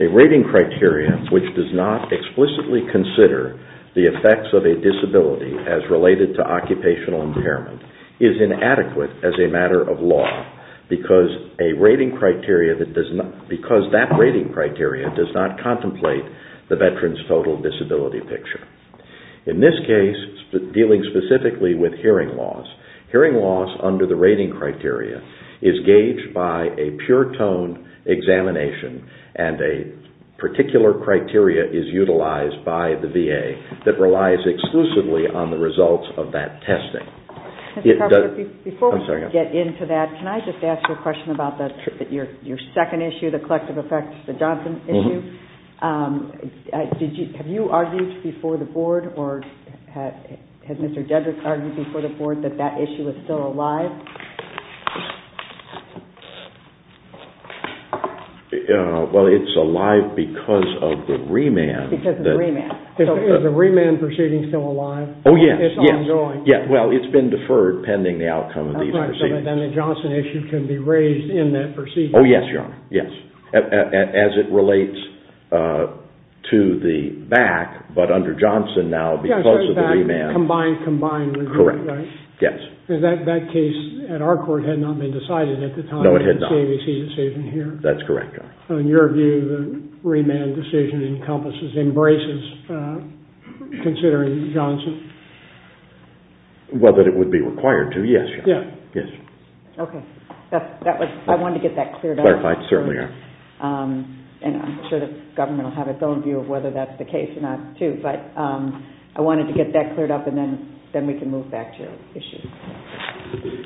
A rating criteria which does not explicitly consider the effects of a disability as related to occupational impairment is inadequate as a matter of law because a rating criteria does not contemplate the veteran's total disability picture. In this case, dealing specifically with hearing loss, hearing loss under the rating criteria is gauged by a pure tone examination and a particular criteria is utilized by the VA that relies exclusively on the results of that testing. Before we get into that, can I just ask you a question about your second issue, the collective effects, the Johnson issue. Have you argued before the board or has Mr. Dedrick argued before the board that that issue is still alive? Well it's alive because of the remand. Because of the remand. Is the remand proceeding still alive? Oh yes, yes. It's ongoing. Well it's been deferred pending the outcome of these proceedings. Right, so then the Johnson issue can be raised in that proceeding. Oh yes, your honor, yes. As it relates to the back, but under Johnson now because of the remand. Combined, combined. Correct, yes. Because that case at our court had not been decided at the time of the CAVC decision here. That's correct, your honor. So in your view, the remand decision encompasses, embraces, considering Johnson? Well, that it would be required to, yes. Yes. Yes. Okay, that was, I wanted to get that cleared up. Clarified, certainly. And I'm sure the government will have its own view of whether that's the case or not too, but I wanted to get that cleared up and then we can move back to issues.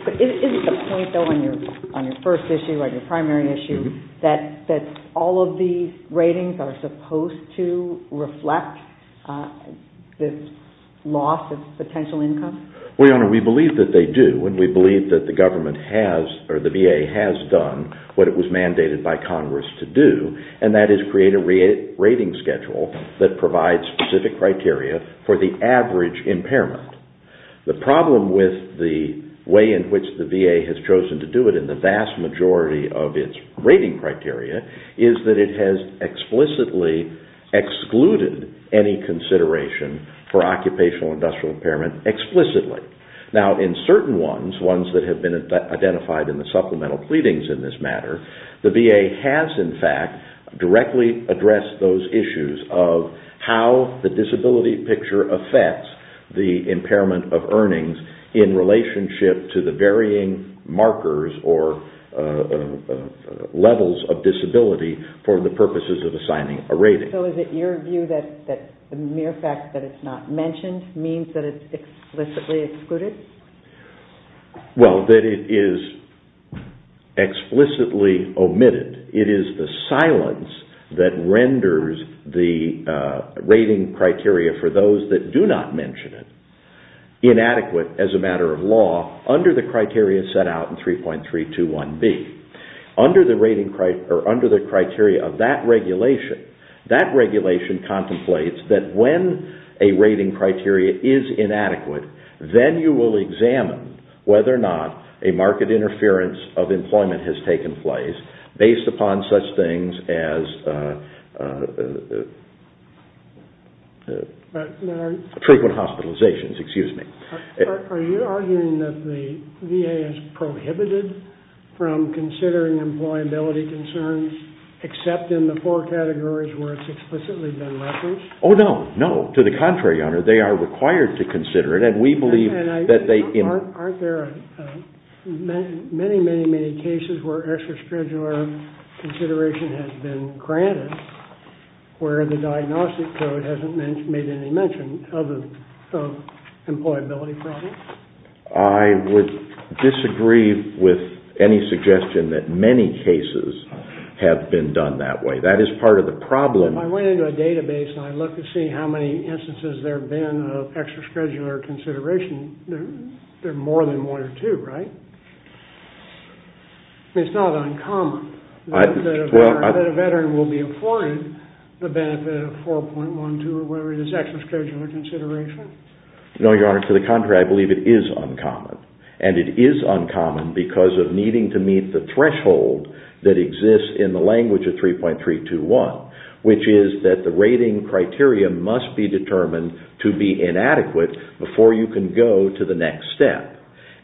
But isn't the point though on your first issue, on your primary issue, that all of these ratings are supposed to reflect this loss of potential income? Well, your honor, we believe that they do and we believe that the government has, or the VA has done what it was mandated by Congress to do, and that is create a rating schedule that provides specific criteria for the average impairment. The problem with the way in which the VA has chosen to do it in the vast majority of its rating criteria is that it has explicitly excluded any consideration for occupational industrial impairment, explicitly. Now, in certain ones, ones that have been identified in the supplemental pleadings in this matter, the VA has, in fact, directly addressed those issues of how the disability picture affects the impairment of earnings in relationship to the varying markers or levels of disability for the purposes of assigning a rating. So is it your view that the mere fact that it's not mentioned means that it's explicitly excluded? Well, that it is explicitly omitted. It is the silence that renders the rating criteria for those that do not mention it inadequate as a matter of law under the criteria set out in 3.321B. Under the criteria of that regulation, that regulation contemplates that when a rating criteria is inadequate, then you will examine whether or not a market interference of employment has taken place based upon such things as frequent hospitalizations. Excuse me. Are you arguing that the VA has prohibited from considering employability concerns except in the four categories where it's explicitly been leveraged? Oh, no. No. To the contrary, Your Honor, they are required to consider it, and we believe that they... Well, aren't there many, many, many cases where extraschedular consideration has been granted where the diagnostic code hasn't made any mention of an employability problem? I would disagree with any suggestion that many cases have been done that way. That is part of the problem. If I went into a database and I looked to see how many instances there have been of there are more than one or two, right? It's not uncommon that a veteran will be afforded the benefit of 4.12 or whatever it is, extraschedular consideration. No, Your Honor. To the contrary, I believe it is uncommon, and it is uncommon because of needing to meet the threshold that exists in the language of 3.321, which is that the rating criteria must be determined to be inadequate before you can go to the next step.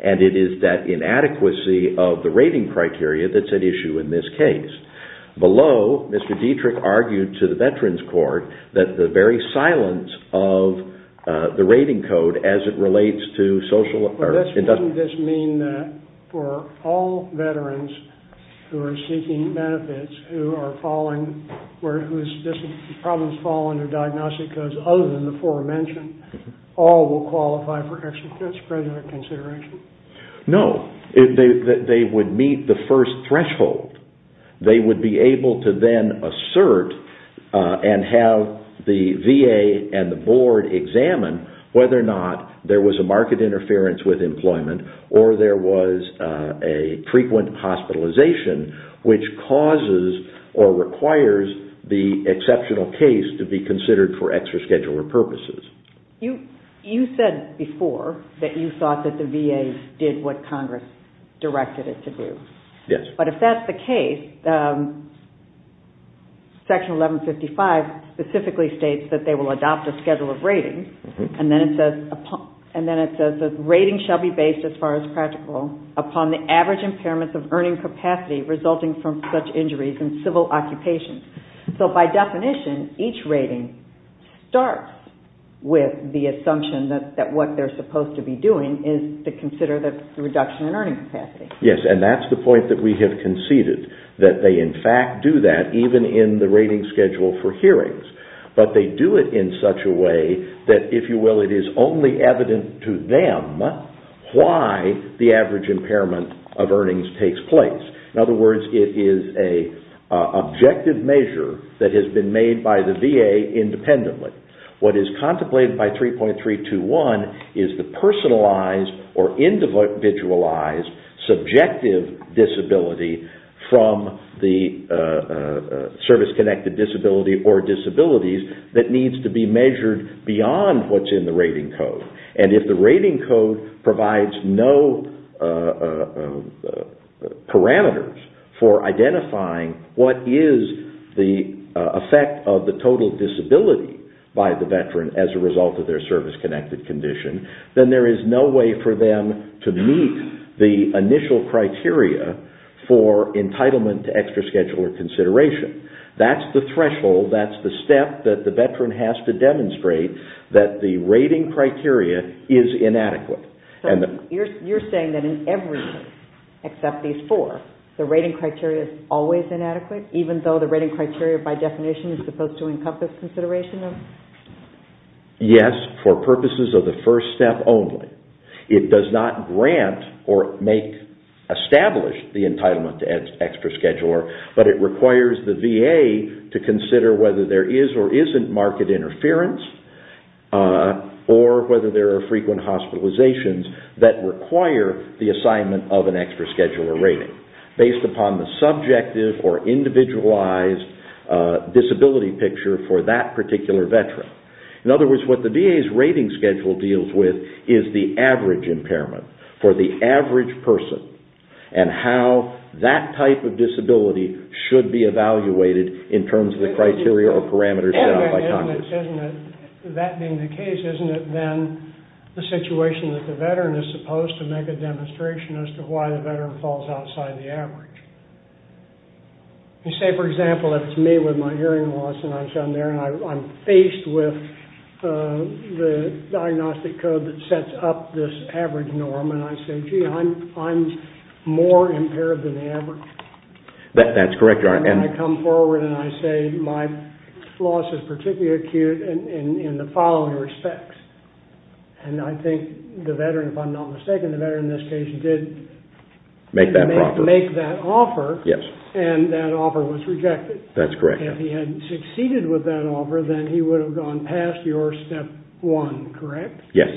And it is that inadequacy of the rating criteria that's at issue in this case. Below, Mr. Dietrich argued to the Veterans Court that the very silence of the rating code as it relates to social... But doesn't this mean that for all veterans who are seeking benefits who are falling... problems fall under diagnostic codes other than the aforementioned, all will qualify for extraschedular consideration? No. They would meet the first threshold. They would be able to then assert and have the VA and the board examine whether or not there was a market interference with employment or there was a frequent hospitalization, which causes or requires the exceptional case to be considered for extraschedular purposes. You said before that you thought that the VA did what Congress directed it to do. Yes. But if that's the case, Section 1155 specifically states that they will adopt a schedule of rating, and then it says, rating shall be based as far as practical upon the average impairments of earning capacity resulting from such injuries in civil occupations. So by definition, each rating starts with the assumption that what they're supposed to be doing is to consider the reduction in earning capacity. Yes. And that's the point that we have conceded, that they in fact do that even in the rating schedule for hearings. But they do it in such a way that, if you will, it is only evident to them why the average impairment of earnings takes place. In other words, it is an objective measure that has been made by the VA independently. What is contemplated by 3.321 is the personalized or individualized subjective disability from the service-connected disability or disabilities that needs to be measured beyond what's in the rating code. And if the rating code provides no parameters for identifying what is the effect of the total disability by the veteran as a result of their service-connected condition, then there is no way for them to meet the initial criteria for entitlement to extra-schedule or consideration. That's the threshold. That's the step that the veteran has to demonstrate that the rating criteria is inadequate. You're saying that in everything except these four, the rating criteria is always inadequate even though the rating criteria by definition is supposed to encompass consideration? Yes, for purposes of the first step only. It does not grant or establish the entitlement to extra-schedule, but it requires the VA to consider whether there is or isn't market interference or whether there are frequent hospitalizations that require the assignment of an extra-schedule or rating based upon the subjective or individualized disability picture for that particular veteran. In other words, what the VA's rating schedule deals with is the average impairment for the That being the case, isn't it then the situation that the veteran is supposed to make a demonstration as to why the veteran falls outside the average? You say, for example, if it's me with my hearing loss and I'm faced with the diagnostic code that sets up this average norm and I say, gee, I'm more impaired than the average. That's correct. I come forward and I say my loss is particularly acute in the following respects. And I think the veteran, if I'm not mistaken, the veteran in this case did make that offer. Yes. And that offer was rejected. That's correct. If he had succeeded with that offer, then he would have gone past your step one, correct? Yes.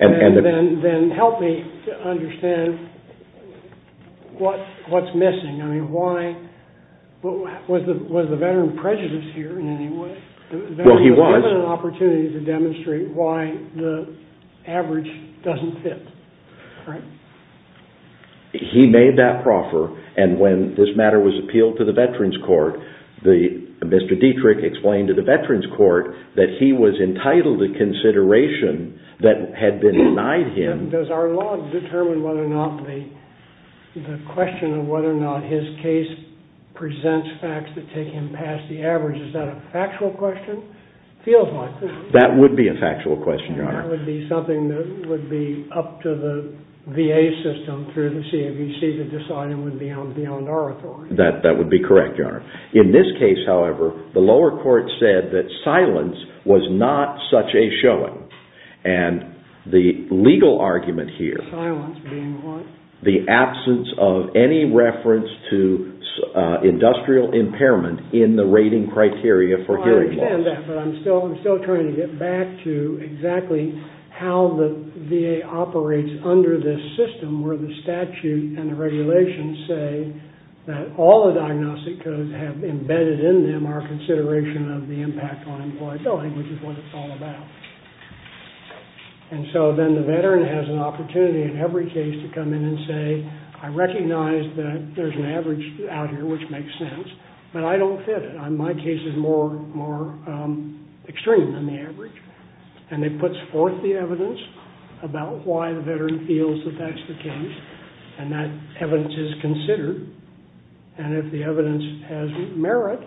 And then help me understand what's missing. Was the veteran prejudiced here in any way? Well, he was. The veteran was given an opportunity to demonstrate why the average doesn't fit, correct? He made that proffer and when this matter was appealed to the Veterans Court, Mr. Dietrich explained to the Veterans Court that he was entitled to consideration that had been denied him. Does our law determine whether or not the question of whether or not his case presents facts that take him past the average? Is that a factual question? It feels like it. That would be a factual question, Your Honor. That would be something that would be up to the VA system through the CAVC to decide it would be beyond our authority. That would be correct, Your Honor. In this case, however, the lower court said that silence was not such a showing. And the legal argument here, silence being what? The absence of any reference to industrial impairment in the rating criteria for hearing loss. I understand that, but I'm still trying to get back to exactly how the VA operates under this system where the statute and the regulations say that all the diagnostic codes have embedded in them our consideration of the impact on employability, which is what it's all about. And so then the veteran has an opportunity in every case to come in and say, I recognize that there's an average out here, which makes sense, but I don't fit it. My case is more extreme than the average. And it puts forth the evidence about why the veteran feels that that's the case. And that evidence is considered. And if the evidence has merit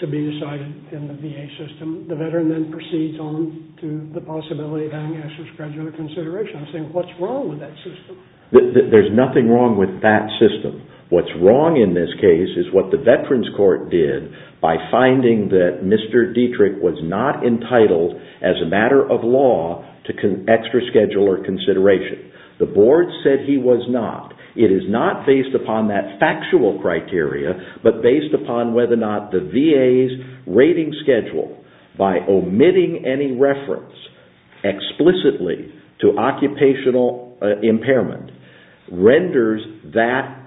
to be decided in the VA system, the veteran then proceeds on to the possibility of having extra-schedular consideration. I'm saying, what's wrong with that system? There's nothing wrong with that system. What's wrong in this case is what the Veterans Court did by finding that Mr. Dietrich was not entitled as a matter of law to extra-schedule or consideration. The board said he was not. It is not based upon that factual criteria, but based upon whether or not the VA's rating schedule, by omitting any reference explicitly to occupational impairment, renders that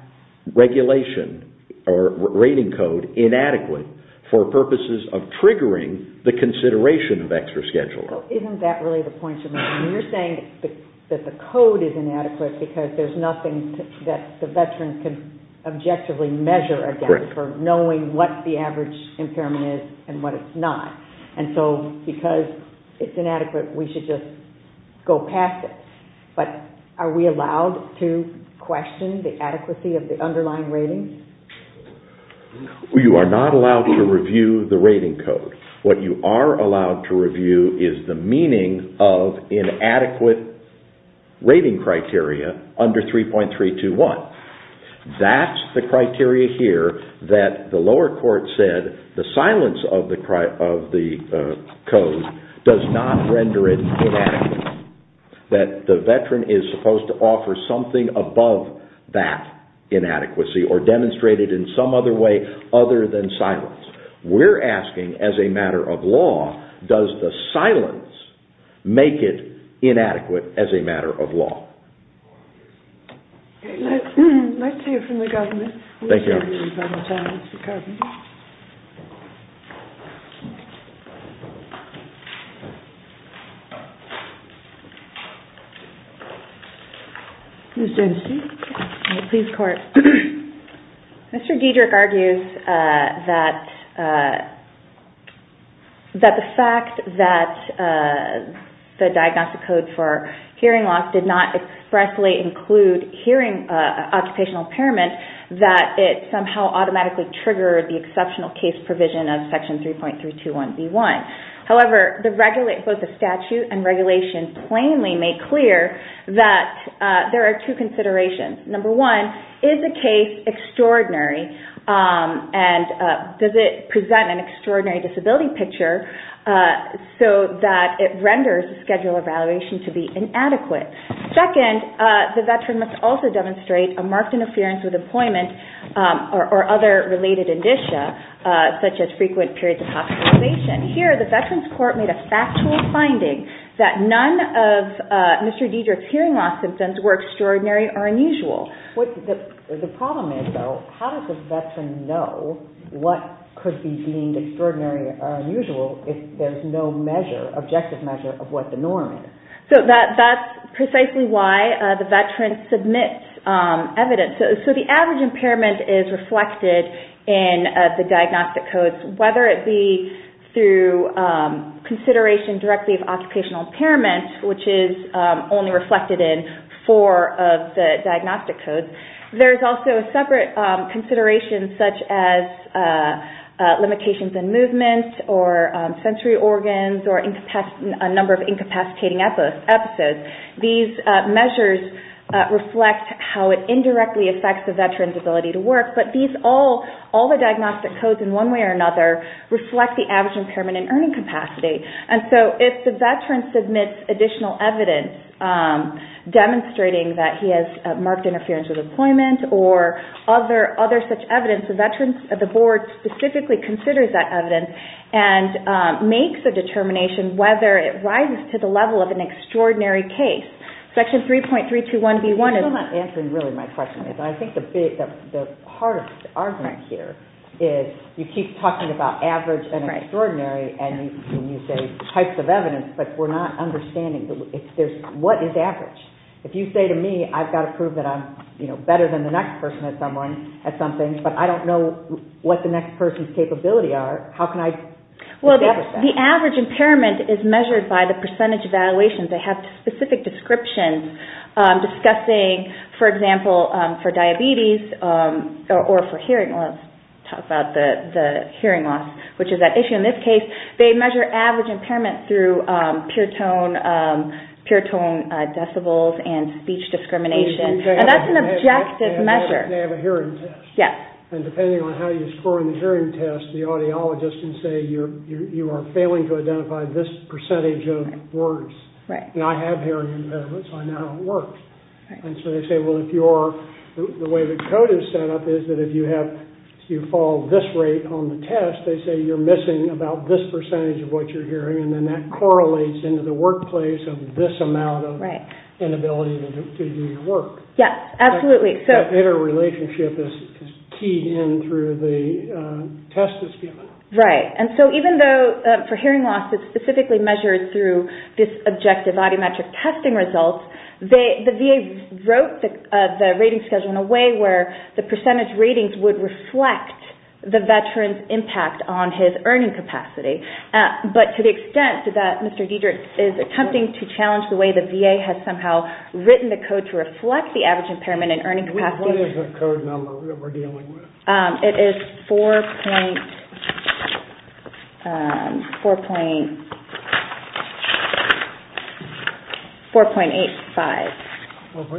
regulation or rating code inadequate for purposes of triggering the consideration of extra-schedule. Isn't that really the point you're making? You're saying that the code is inadequate because there's nothing that the veteran can objectively measure against for knowing what the average impairment is and what it's not. And so because it's inadequate, we should just go past it. But are we allowed to question the adequacy of the underlying rating? You are not allowed to review the rating code. What you are allowed to review is the meaning of inadequate rating criteria under 3.321. That's the criteria here that the lower court said the silence of the code does not render it inadequate. That the veteran is supposed to offer something above that inadequacy or demonstrate it in some other way other than silence. We're asking, as a matter of law, does the silence make it inadequate as a matter of law? I'd like to hear from the government. Thank you. Ms. Jensen. Please, court. Mr. Diederich argues that the fact that the diagnostic code for hearing loss did not expressly include hearing occupational impairment, that it somehow automatically triggered the exceptional case provision of Section 3.321B1. However, both the statute and regulation plainly make clear that there are two considerations. Number one, is the case extraordinary? And does it present an extraordinary disability picture so that it renders the schedule of evaluation to be inadequate? Second, the veteran must also demonstrate a marked interference with employment or other related indicia, such as frequent periods of hospitalization. Here, the Veterans Court made a factual finding that none of Mr. Diederich's hearing loss symptoms were extraordinary or unusual. The problem is, though, how does the veteran know what could be deemed extraordinary or unusual if there's no objective measure of what the norm is? That's precisely why the veteran submits evidence. The average impairment is reflected in the diagnostic codes, whether it be through consideration directly of occupational impairment, which is only reflected in four of the diagnostic codes. There's also separate considerations, such as limitations in movement or sensory organs or a number of incapacitating episodes. These measures reflect how it indirectly affects the veteran's ability to work, but all the diagnostic codes, in one way or another, reflect the average impairment in earning capacity. So if the veteran submits additional evidence demonstrating that he has marked interference with employment or other such evidence, the board specifically considers that evidence and makes a determination whether it rises to the level of an extraordinary case. Section 3.321B1 is... You're not answering really my question. I think the heart of the argument here is, you keep talking about average and extraordinary and you say types of evidence, but we're not understanding what is average. If you say to me, I've got to prove that I'm better than the next person at something, but I don't know what the next person's capabilities are, how can I establish that? The average impairment is measured by the percentage evaluation. They have specific descriptions discussing, for example, for diabetes or for hearing loss, talk about the hearing loss, which is an issue in this case, they measure average impairment through pure tone decibels and speech discrimination. And that's an objective measure. They have a hearing test. Yes. And depending on how you score in the hearing test, the audiologist can say, you are failing to identify this percentage of words. Right. And I have hearing impairment, so I know how it works. Right. And so they say, well, the way the code is set up is that if you fall this rate on the test, they say you're missing about this percentage of what you're hearing, and then that correlates into the workplace of this amount of inability to do your work. Yes, absolutely. That interrelationship is key in through the test that's given. Right. And so even though for hearing loss, it's specifically measured through this objective audiometric testing result, the VA wrote the rating schedule in a way where the percentage ratings would reflect the veteran's impact on his earning capacity. But to the extent that Mr. Diedrich is attempting to challenge the way the VA has somehow written the code to reflect the average impairment and earning capacity. What is the code number that we're dealing with? It is 4.85. 4.85? 4.85.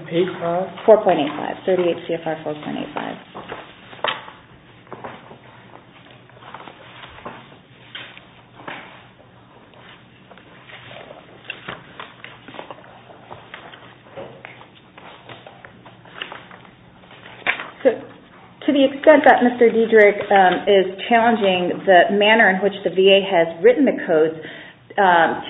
38 CFR 4.85. So to the extent that Mr. Diedrich is challenging the manner in which the VA has written the code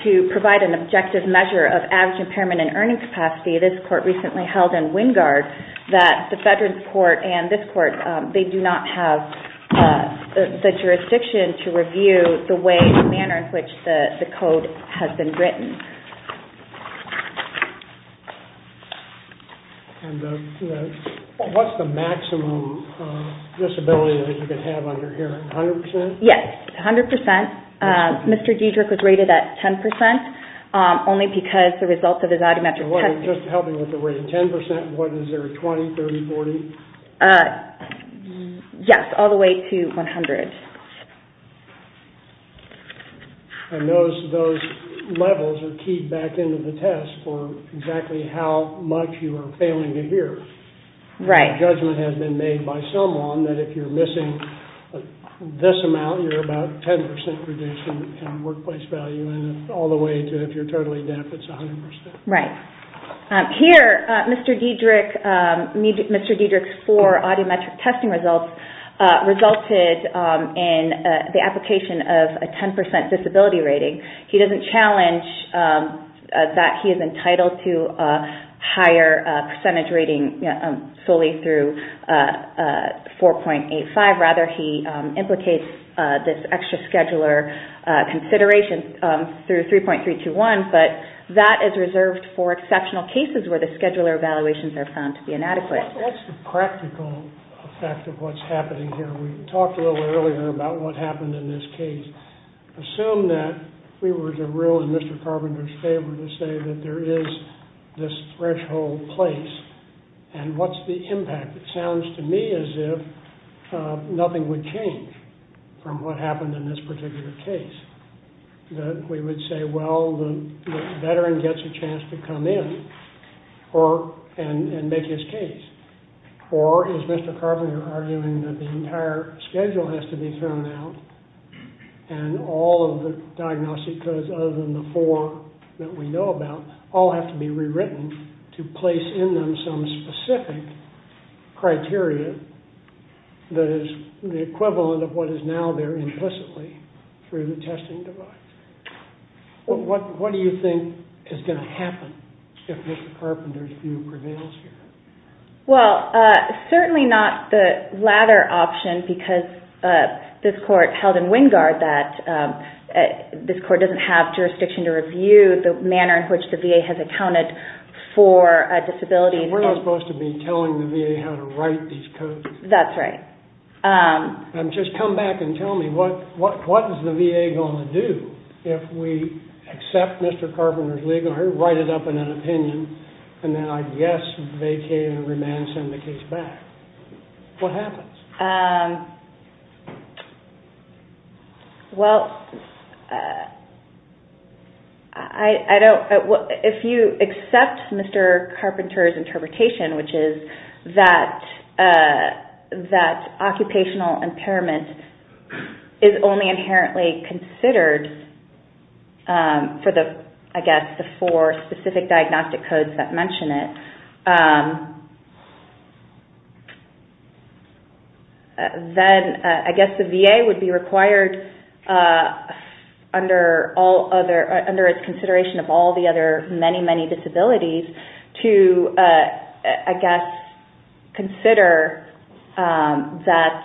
to provide an objective measure of average impairment and earning capacity, this court recently held in Wingard that the veteran's court and this court, they do not have the jurisdiction to review the way, the manner in which the code has been written. What's the maximum disability that you can have under here? 100%? Yes, 100%. Mr. Diedrich was rated at 10% only because the results of his biometric testing. Just helping with the rating. 10%, what is there, 20, 30, 40? Yes, all the way to 100. And those levels are keyed back into the test for exactly how much you are failing to hear. Right. Judgment has been made by someone that if you're missing this amount, you're about 10% reduced in workplace value, all the way to if you're totally deaf, it's 100%. Right. Here, Mr. Diedrich's four audiometric testing results resulted in the application of a 10% disability rating. He doesn't challenge that he is entitled to a higher percentage rating solely through 4.85. Rather, he implicates this extra scheduler consideration through 3.321, but that is reserved for exceptional cases where the scheduler evaluations are found to be inadequate. What's the practical effect of what's happening here? We talked a little earlier about what happened in this case. Assume that we were to rule in Mr. Carpenter's favor to say that there is this threshold place, and what's the impact? It sounds to me as if nothing would change from what happened in this particular case. We would say, well, the veteran gets a chance to come in and make his case. Or is Mr. Carpenter arguing that the entire schedule has to be thrown out and all of the diagnostic codes other than the four that we know about all have to be rewritten to place in them some specific criteria that is the equivalent of what is now there implicitly through the testing device? What do you think is going to happen if Mr. Carpenter's view prevails here? Well, certainly not the latter option because this court held in Wingard that this court doesn't have jurisdiction to review the manner in which the case is accounted for a disability. We're not supposed to be telling the VA how to write these codes. That's right. Just come back and tell me, what is the VA going to do if we accept Mr. Carpenter's legal, write it up in an opinion, and then I guess vacate and remand and send the case back? What happens? Well, if you accept Mr. Carpenter's interpretation, which is that occupational impairment is only inherently considered for the, I guess, the four specific diagnostic codes that mention it, then I guess the VA would be required under its consideration of all the other many, many disabilities to, I guess, consider that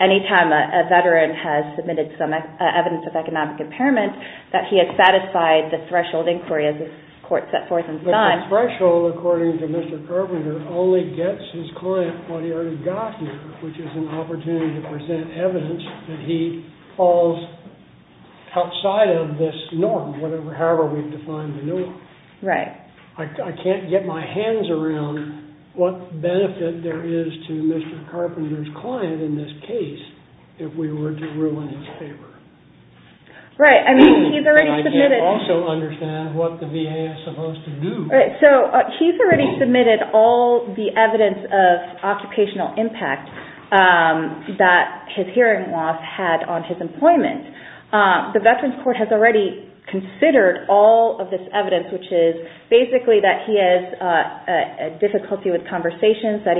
any time a veteran has submitted some evidence of economic impairment that he has satisfied the threshold inquiry as this court set forth and signed. But the threshold, according to Mr. Carpenter, only gets his client what he already got here, which is an opportunity to present evidence that he falls outside of this norm, however we've defined the norm. Right. I can't get my hands around what benefit there is to Mr. Carpenter's client in this case if we were to ruin his favor. Right. I mean, he's already submitted. I don't also understand what the VA is supposed to do. Right. So he's already submitted all the evidence of occupational impact that his hearing loss had on his employment. The Veterans Court has already considered all of this evidence, which is basically that he has difficulty with conversations, that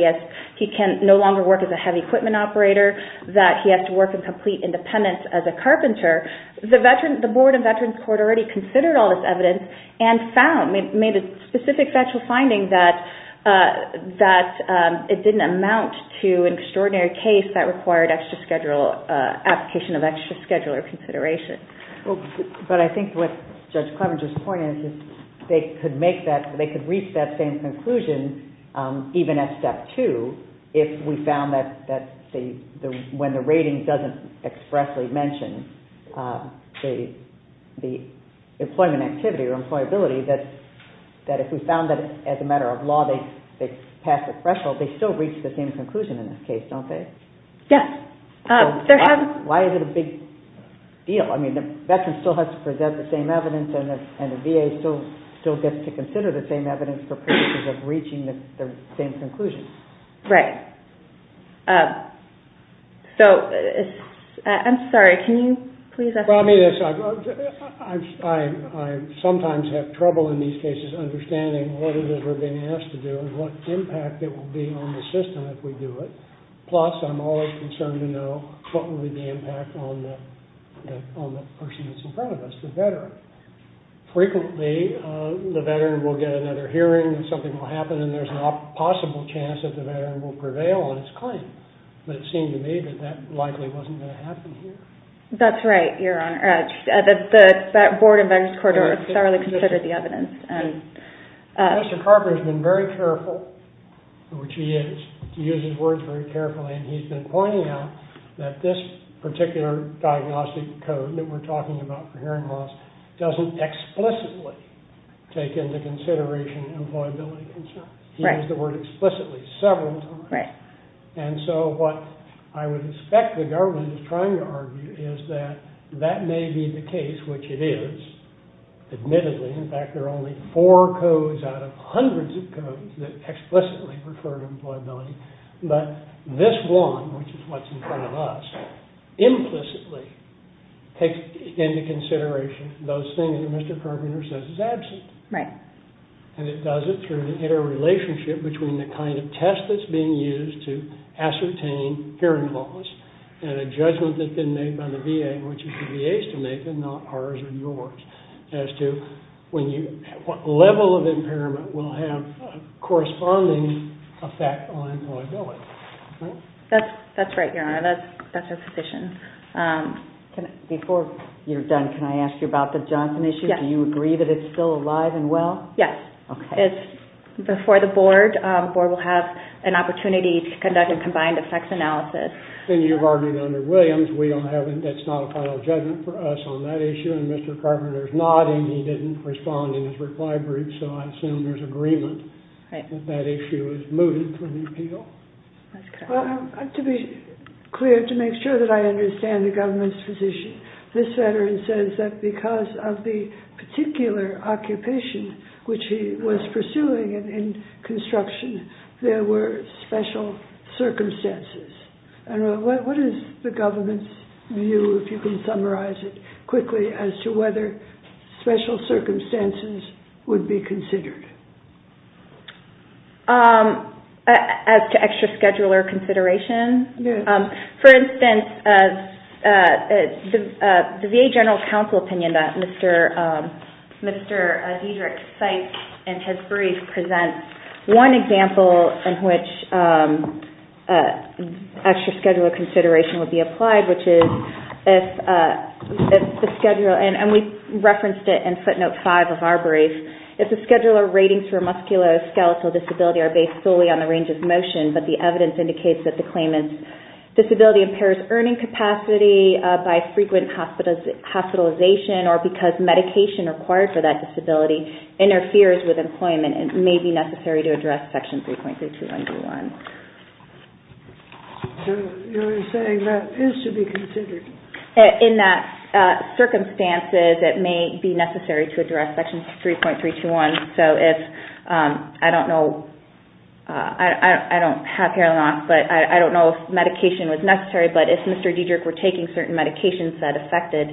he can no longer work as a heavy equipment operator, that he has to work in complete independence as a carpenter. The Board of Veterans Court already considered all this evidence and found, made a specific factual finding that it didn't amount to an extraordinary case that required application of extra scheduler consideration. But I think what Judge Clevenger's point is is they could reach that same conclusion even at step two if we found that when the rating doesn't expressly mention the employment activity or employability, that if we found that as a matter of law they pass the threshold, they still reach the same conclusion in this case, don't they? Yes. Why is it a big deal? I mean, the veteran still has to present the same evidence and the VA still gets to consider the same evidence for purposes of reaching the same conclusion. Right. So, I'm sorry, can you please explain? I sometimes have trouble in these cases understanding what it is we're being asked to do and what impact it will be on the system if we do it. Plus, I'm always concerned to know what will be the impact on the person that's in front of us, the veteran. Frequently, the veteran will get another hearing and something will prevail on its claim. But it seemed to me that that likely wasn't going to happen here. That's right, Your Honor. That Board of Veterans Corridor thoroughly considered the evidence. Mr. Carper has been very careful, which he is, to use his words very carefully, and he's been pointing out that this particular diagnostic code that we're talking about for hearing loss doesn't explicitly take into consideration employability concerns. He used the word explicitly several times. Right. And so what I would expect the government is trying to argue is that that may be the case, which it is, admittedly. In fact, there are only four codes out of hundreds of codes that explicitly refer to employability. But this one, which is what's in front of us, implicitly takes into consideration those things that Mr. Carpenter says is absent. Right. And it does it through the interrelationship between the kind of test that's being used to ascertain hearing loss and a judgment that's been made by the VA, which is the VA's to make and not ours or yours, as to what level of impairment will have a corresponding effect on employability. That's right, Your Honor. That's our position. Before you're done, can I ask you about the Johnson issue? Yes. Do you agree that it's still alive and well? Yes. Okay. It's before the board. The board will have an opportunity to conduct a combined effects analysis. And you've argued under Williams that that's not a final judgment for us on that issue. And Mr. Carpenter is nodding. He didn't respond in his reply brief. So I assume there's agreement that that issue is moved from the appeal. That's correct. To be clear, to make sure that I understand the government's position, this veteran says that because of the particular occupation which he was pursuing in construction, there were special circumstances. And what is the government's view, if you can summarize it quickly, as to whether special circumstances would be considered? As to extra scheduler considerations? Yes. For instance, the VA General Counsel opinion that Mr. Diederich cites in his brief presents one example in which extra scheduler consideration would be applied, which is if the scheduler, and we referenced it in footnote five of our brief, if the scheduler ratings for musculoskeletal disability are based solely on the range of motion but the evidence indicates that the claim is disability impairs earning capacity by frequent hospitalization or because medication required for that disability interferes with employment and may be necessary to address Section 3.321. So you're saying that is to be considered? In that circumstances, it may be necessary to address Section 3.321. I don't have here a lot, but I don't know if medication was necessary, but if Mr. Diederich were taking certain medications that affected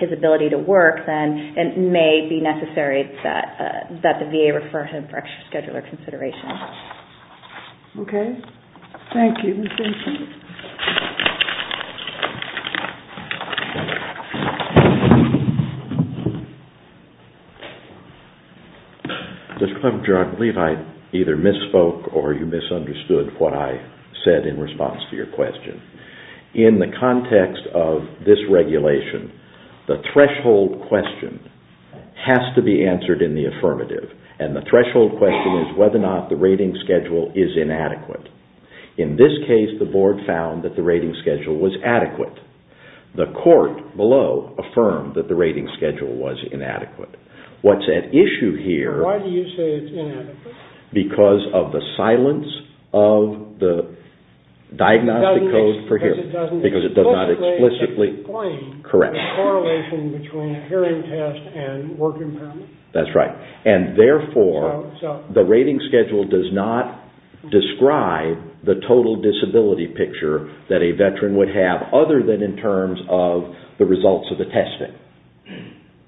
his ability to work, then it may be necessary that the VA refer him for extra scheduler consideration. Okay. Thank you. Judge, I believe I either misspoke or you misunderstood what I said in response to your question. In the context of this regulation, the threshold question has to be answered in the affirmative, and the threshold question is whether or not the rating schedule is inadequate. In this case, the Board found that the rating schedule was adequate. The court below affirmed that the rating schedule was inadequate. What's at issue here... Why do you say it's inadequate? Because of the silence of the diagnostic code for hearing. Because it doesn't explicitly explain the correlation between hearing test and work impairment? That's right. And therefore, the rating schedule does not describe the total disability picture that a veteran would have, other than in terms of the results of the testing.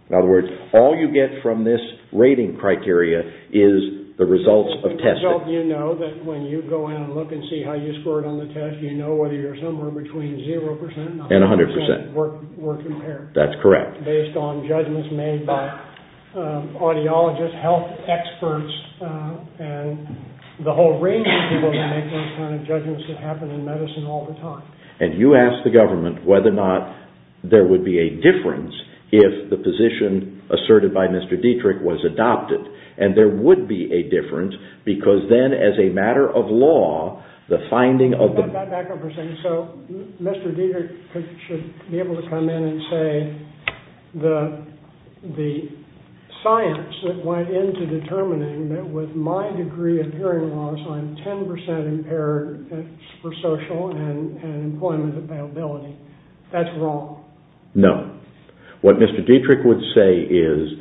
In other words, all you get from this rating criteria is the results of testing. You know that when you go in and look and see how you scored on the test, you know whether you're somewhere between 0% and 100% work impairment. That's correct. Based on judgments made by audiologists, health experts, and the whole range of people who make those kind of judgments that happen in medicine all the time. And you ask the government whether or not there would be a difference if the position asserted by Mr. Dietrich was adopted, and there would be a difference because then as a matter of law, the finding of the... Back up for a second. So Mr. Dietrich should be able to come in and say that the science that went into determining that with my degree of hearing loss, I'm 10% impaired for social and employment availability. That's wrong. No. What Mr. Dietrich would say is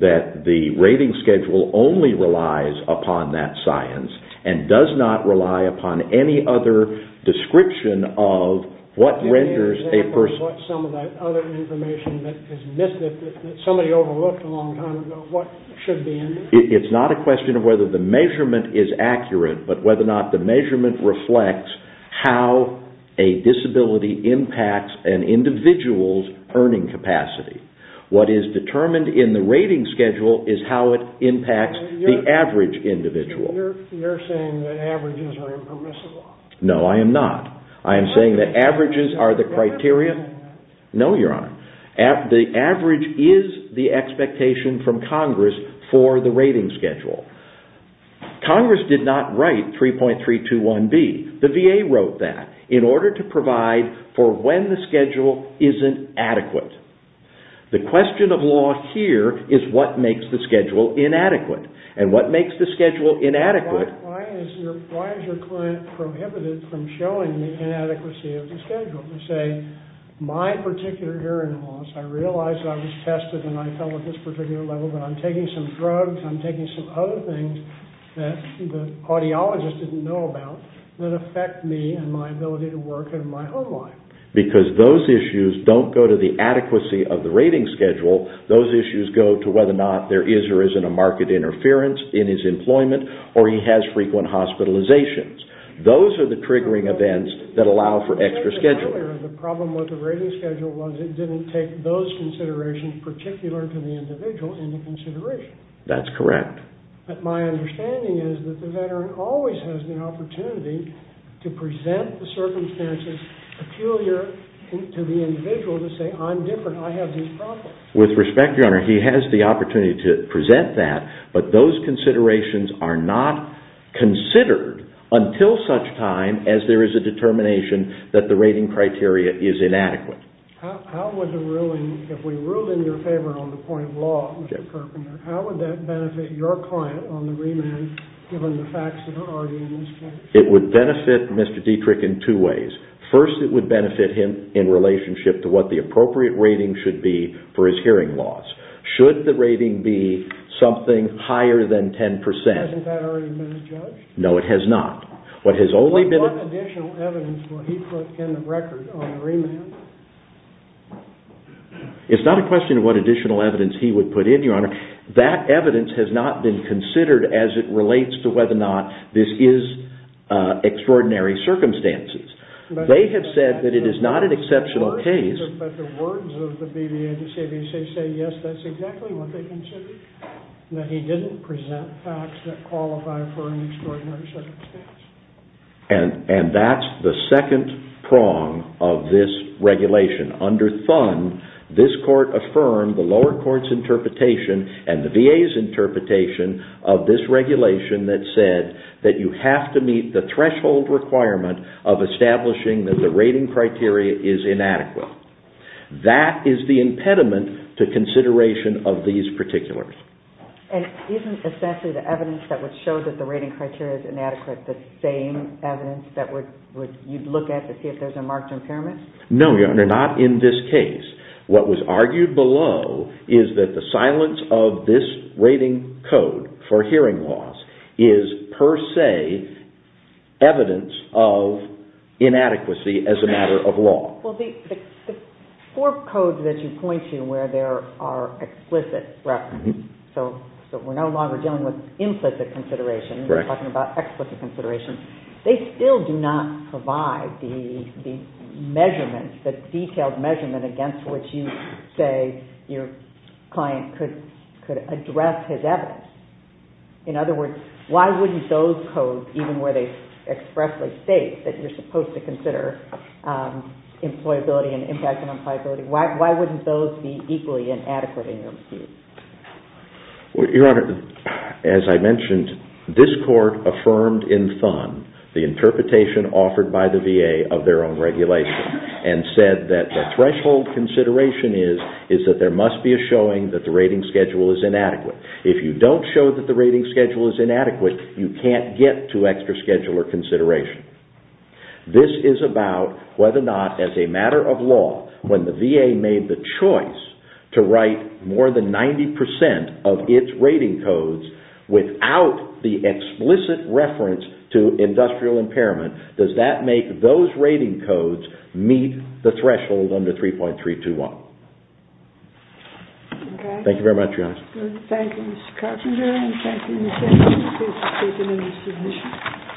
that the rating schedule only relies upon that science and does not rely upon any other description of what renders a person... Any example of what some of that other information that is missing, that somebody overlooked a long time ago, what should be in there? It's not a question of whether the measurement is accurate, but whether or not the measurement reflects how a disability impacts an individual's earning capacity. What is determined in the rating schedule is how it impacts the average individual. You're saying that averages are impermissible. No, I am not. I am saying that averages are the criteria. No, Your Honor. The average is the expectation from Congress for the rating schedule. Congress did not write 3.321B. The VA wrote that in order to provide for when the schedule isn't adequate. The question of law here is what makes the schedule inadequate, and what makes the schedule inadequate... Why is your client prohibited from showing the inadequacy of the schedule? They say, my particular hearing loss, I realize I was tested and I fell at this particular level, but I'm taking some drugs, I'm taking some other things that the audiologist didn't know about that affect me and my ability to work and my home life. Because those issues don't go to the adequacy of the rating schedule. Those issues go to whether or not there is or isn't a market interference in his employment or he has frequent hospitalizations. Those are the triggering events that allow for extra scheduling. The problem with the rating schedule was it didn't take those considerations, particular to the individual, into consideration. That's correct. But my understanding is that the veteran always has the opportunity to present the circumstances peculiar to the individual to say, I'm different, I have these problems. With respect, Your Honor, he has the opportunity to present that, but those considerations are not considered until such time as there is a determination that the rating criteria is inadequate. How would the ruling, if we ruled in your favor on the point of law, Mr. Perkin, how would that benefit your client on the remand given the facts of the argument? It would benefit Mr. Dietrich in two ways. First, it would benefit him in relationship to what the appropriate rating should be for his hearing loss. Should the rating be something higher than 10%. Hasn't that already been judged? No, it has not. What additional evidence will he put in the record on the remand? It's not a question of what additional evidence he would put in, Your Honor. That evidence has not been considered as it relates to whether or not this is extraordinary circumstances. They have said that it is not an exceptional case. But the words of the BVA and the CBC say, yes, that's exactly what they considered, that he didn't present facts that qualify for an extraordinary circumstance. And that's the second prong of this regulation. Under Thun, this Court affirmed the lower court's interpretation and the VA's interpretation of this regulation that said that you have to meet the threshold requirement of establishing that the rating criteria is inadequate. That is the impediment to consideration of these particulars. And isn't essentially the evidence that would show that the rating criteria is inadequate the same evidence that you'd look at to see if there's a marked impairment? No, Your Honor, not in this case. What was argued below is that the silence of this rating code for hearing loss is per se evidence of inadequacy as a matter of law. Well, the four codes that you point to where there are explicit references, so we're no longer dealing with implicit consideration, we're talking about explicit consideration, they still do not provide the measurements, the detailed measurement against which you say your client could address his evidence. In other words, why wouldn't those codes, even where they expressly state that you're supposed to consider employability and impact on employability, why wouldn't those be equally inadequate in your review? Your Honor, as I mentioned, this Court affirmed in Thun the interpretation offered by the VA of their own regulation and said that the threshold consideration is that there must be a showing that the rating schedule is inadequate. If you don't show that the rating schedule is inadequate, you can't get to extra scheduler consideration. This is about whether or not, as a matter of law, when the VA made the choice to write more than 90% of its rating codes without the explicit reference to industrial impairment, does that make those rating codes meet the threshold under 3.321? Thank you very much, Your Honor. Thank you, Mr. Carpenter, and thank you, Ms. Anderson, for participating in this submission.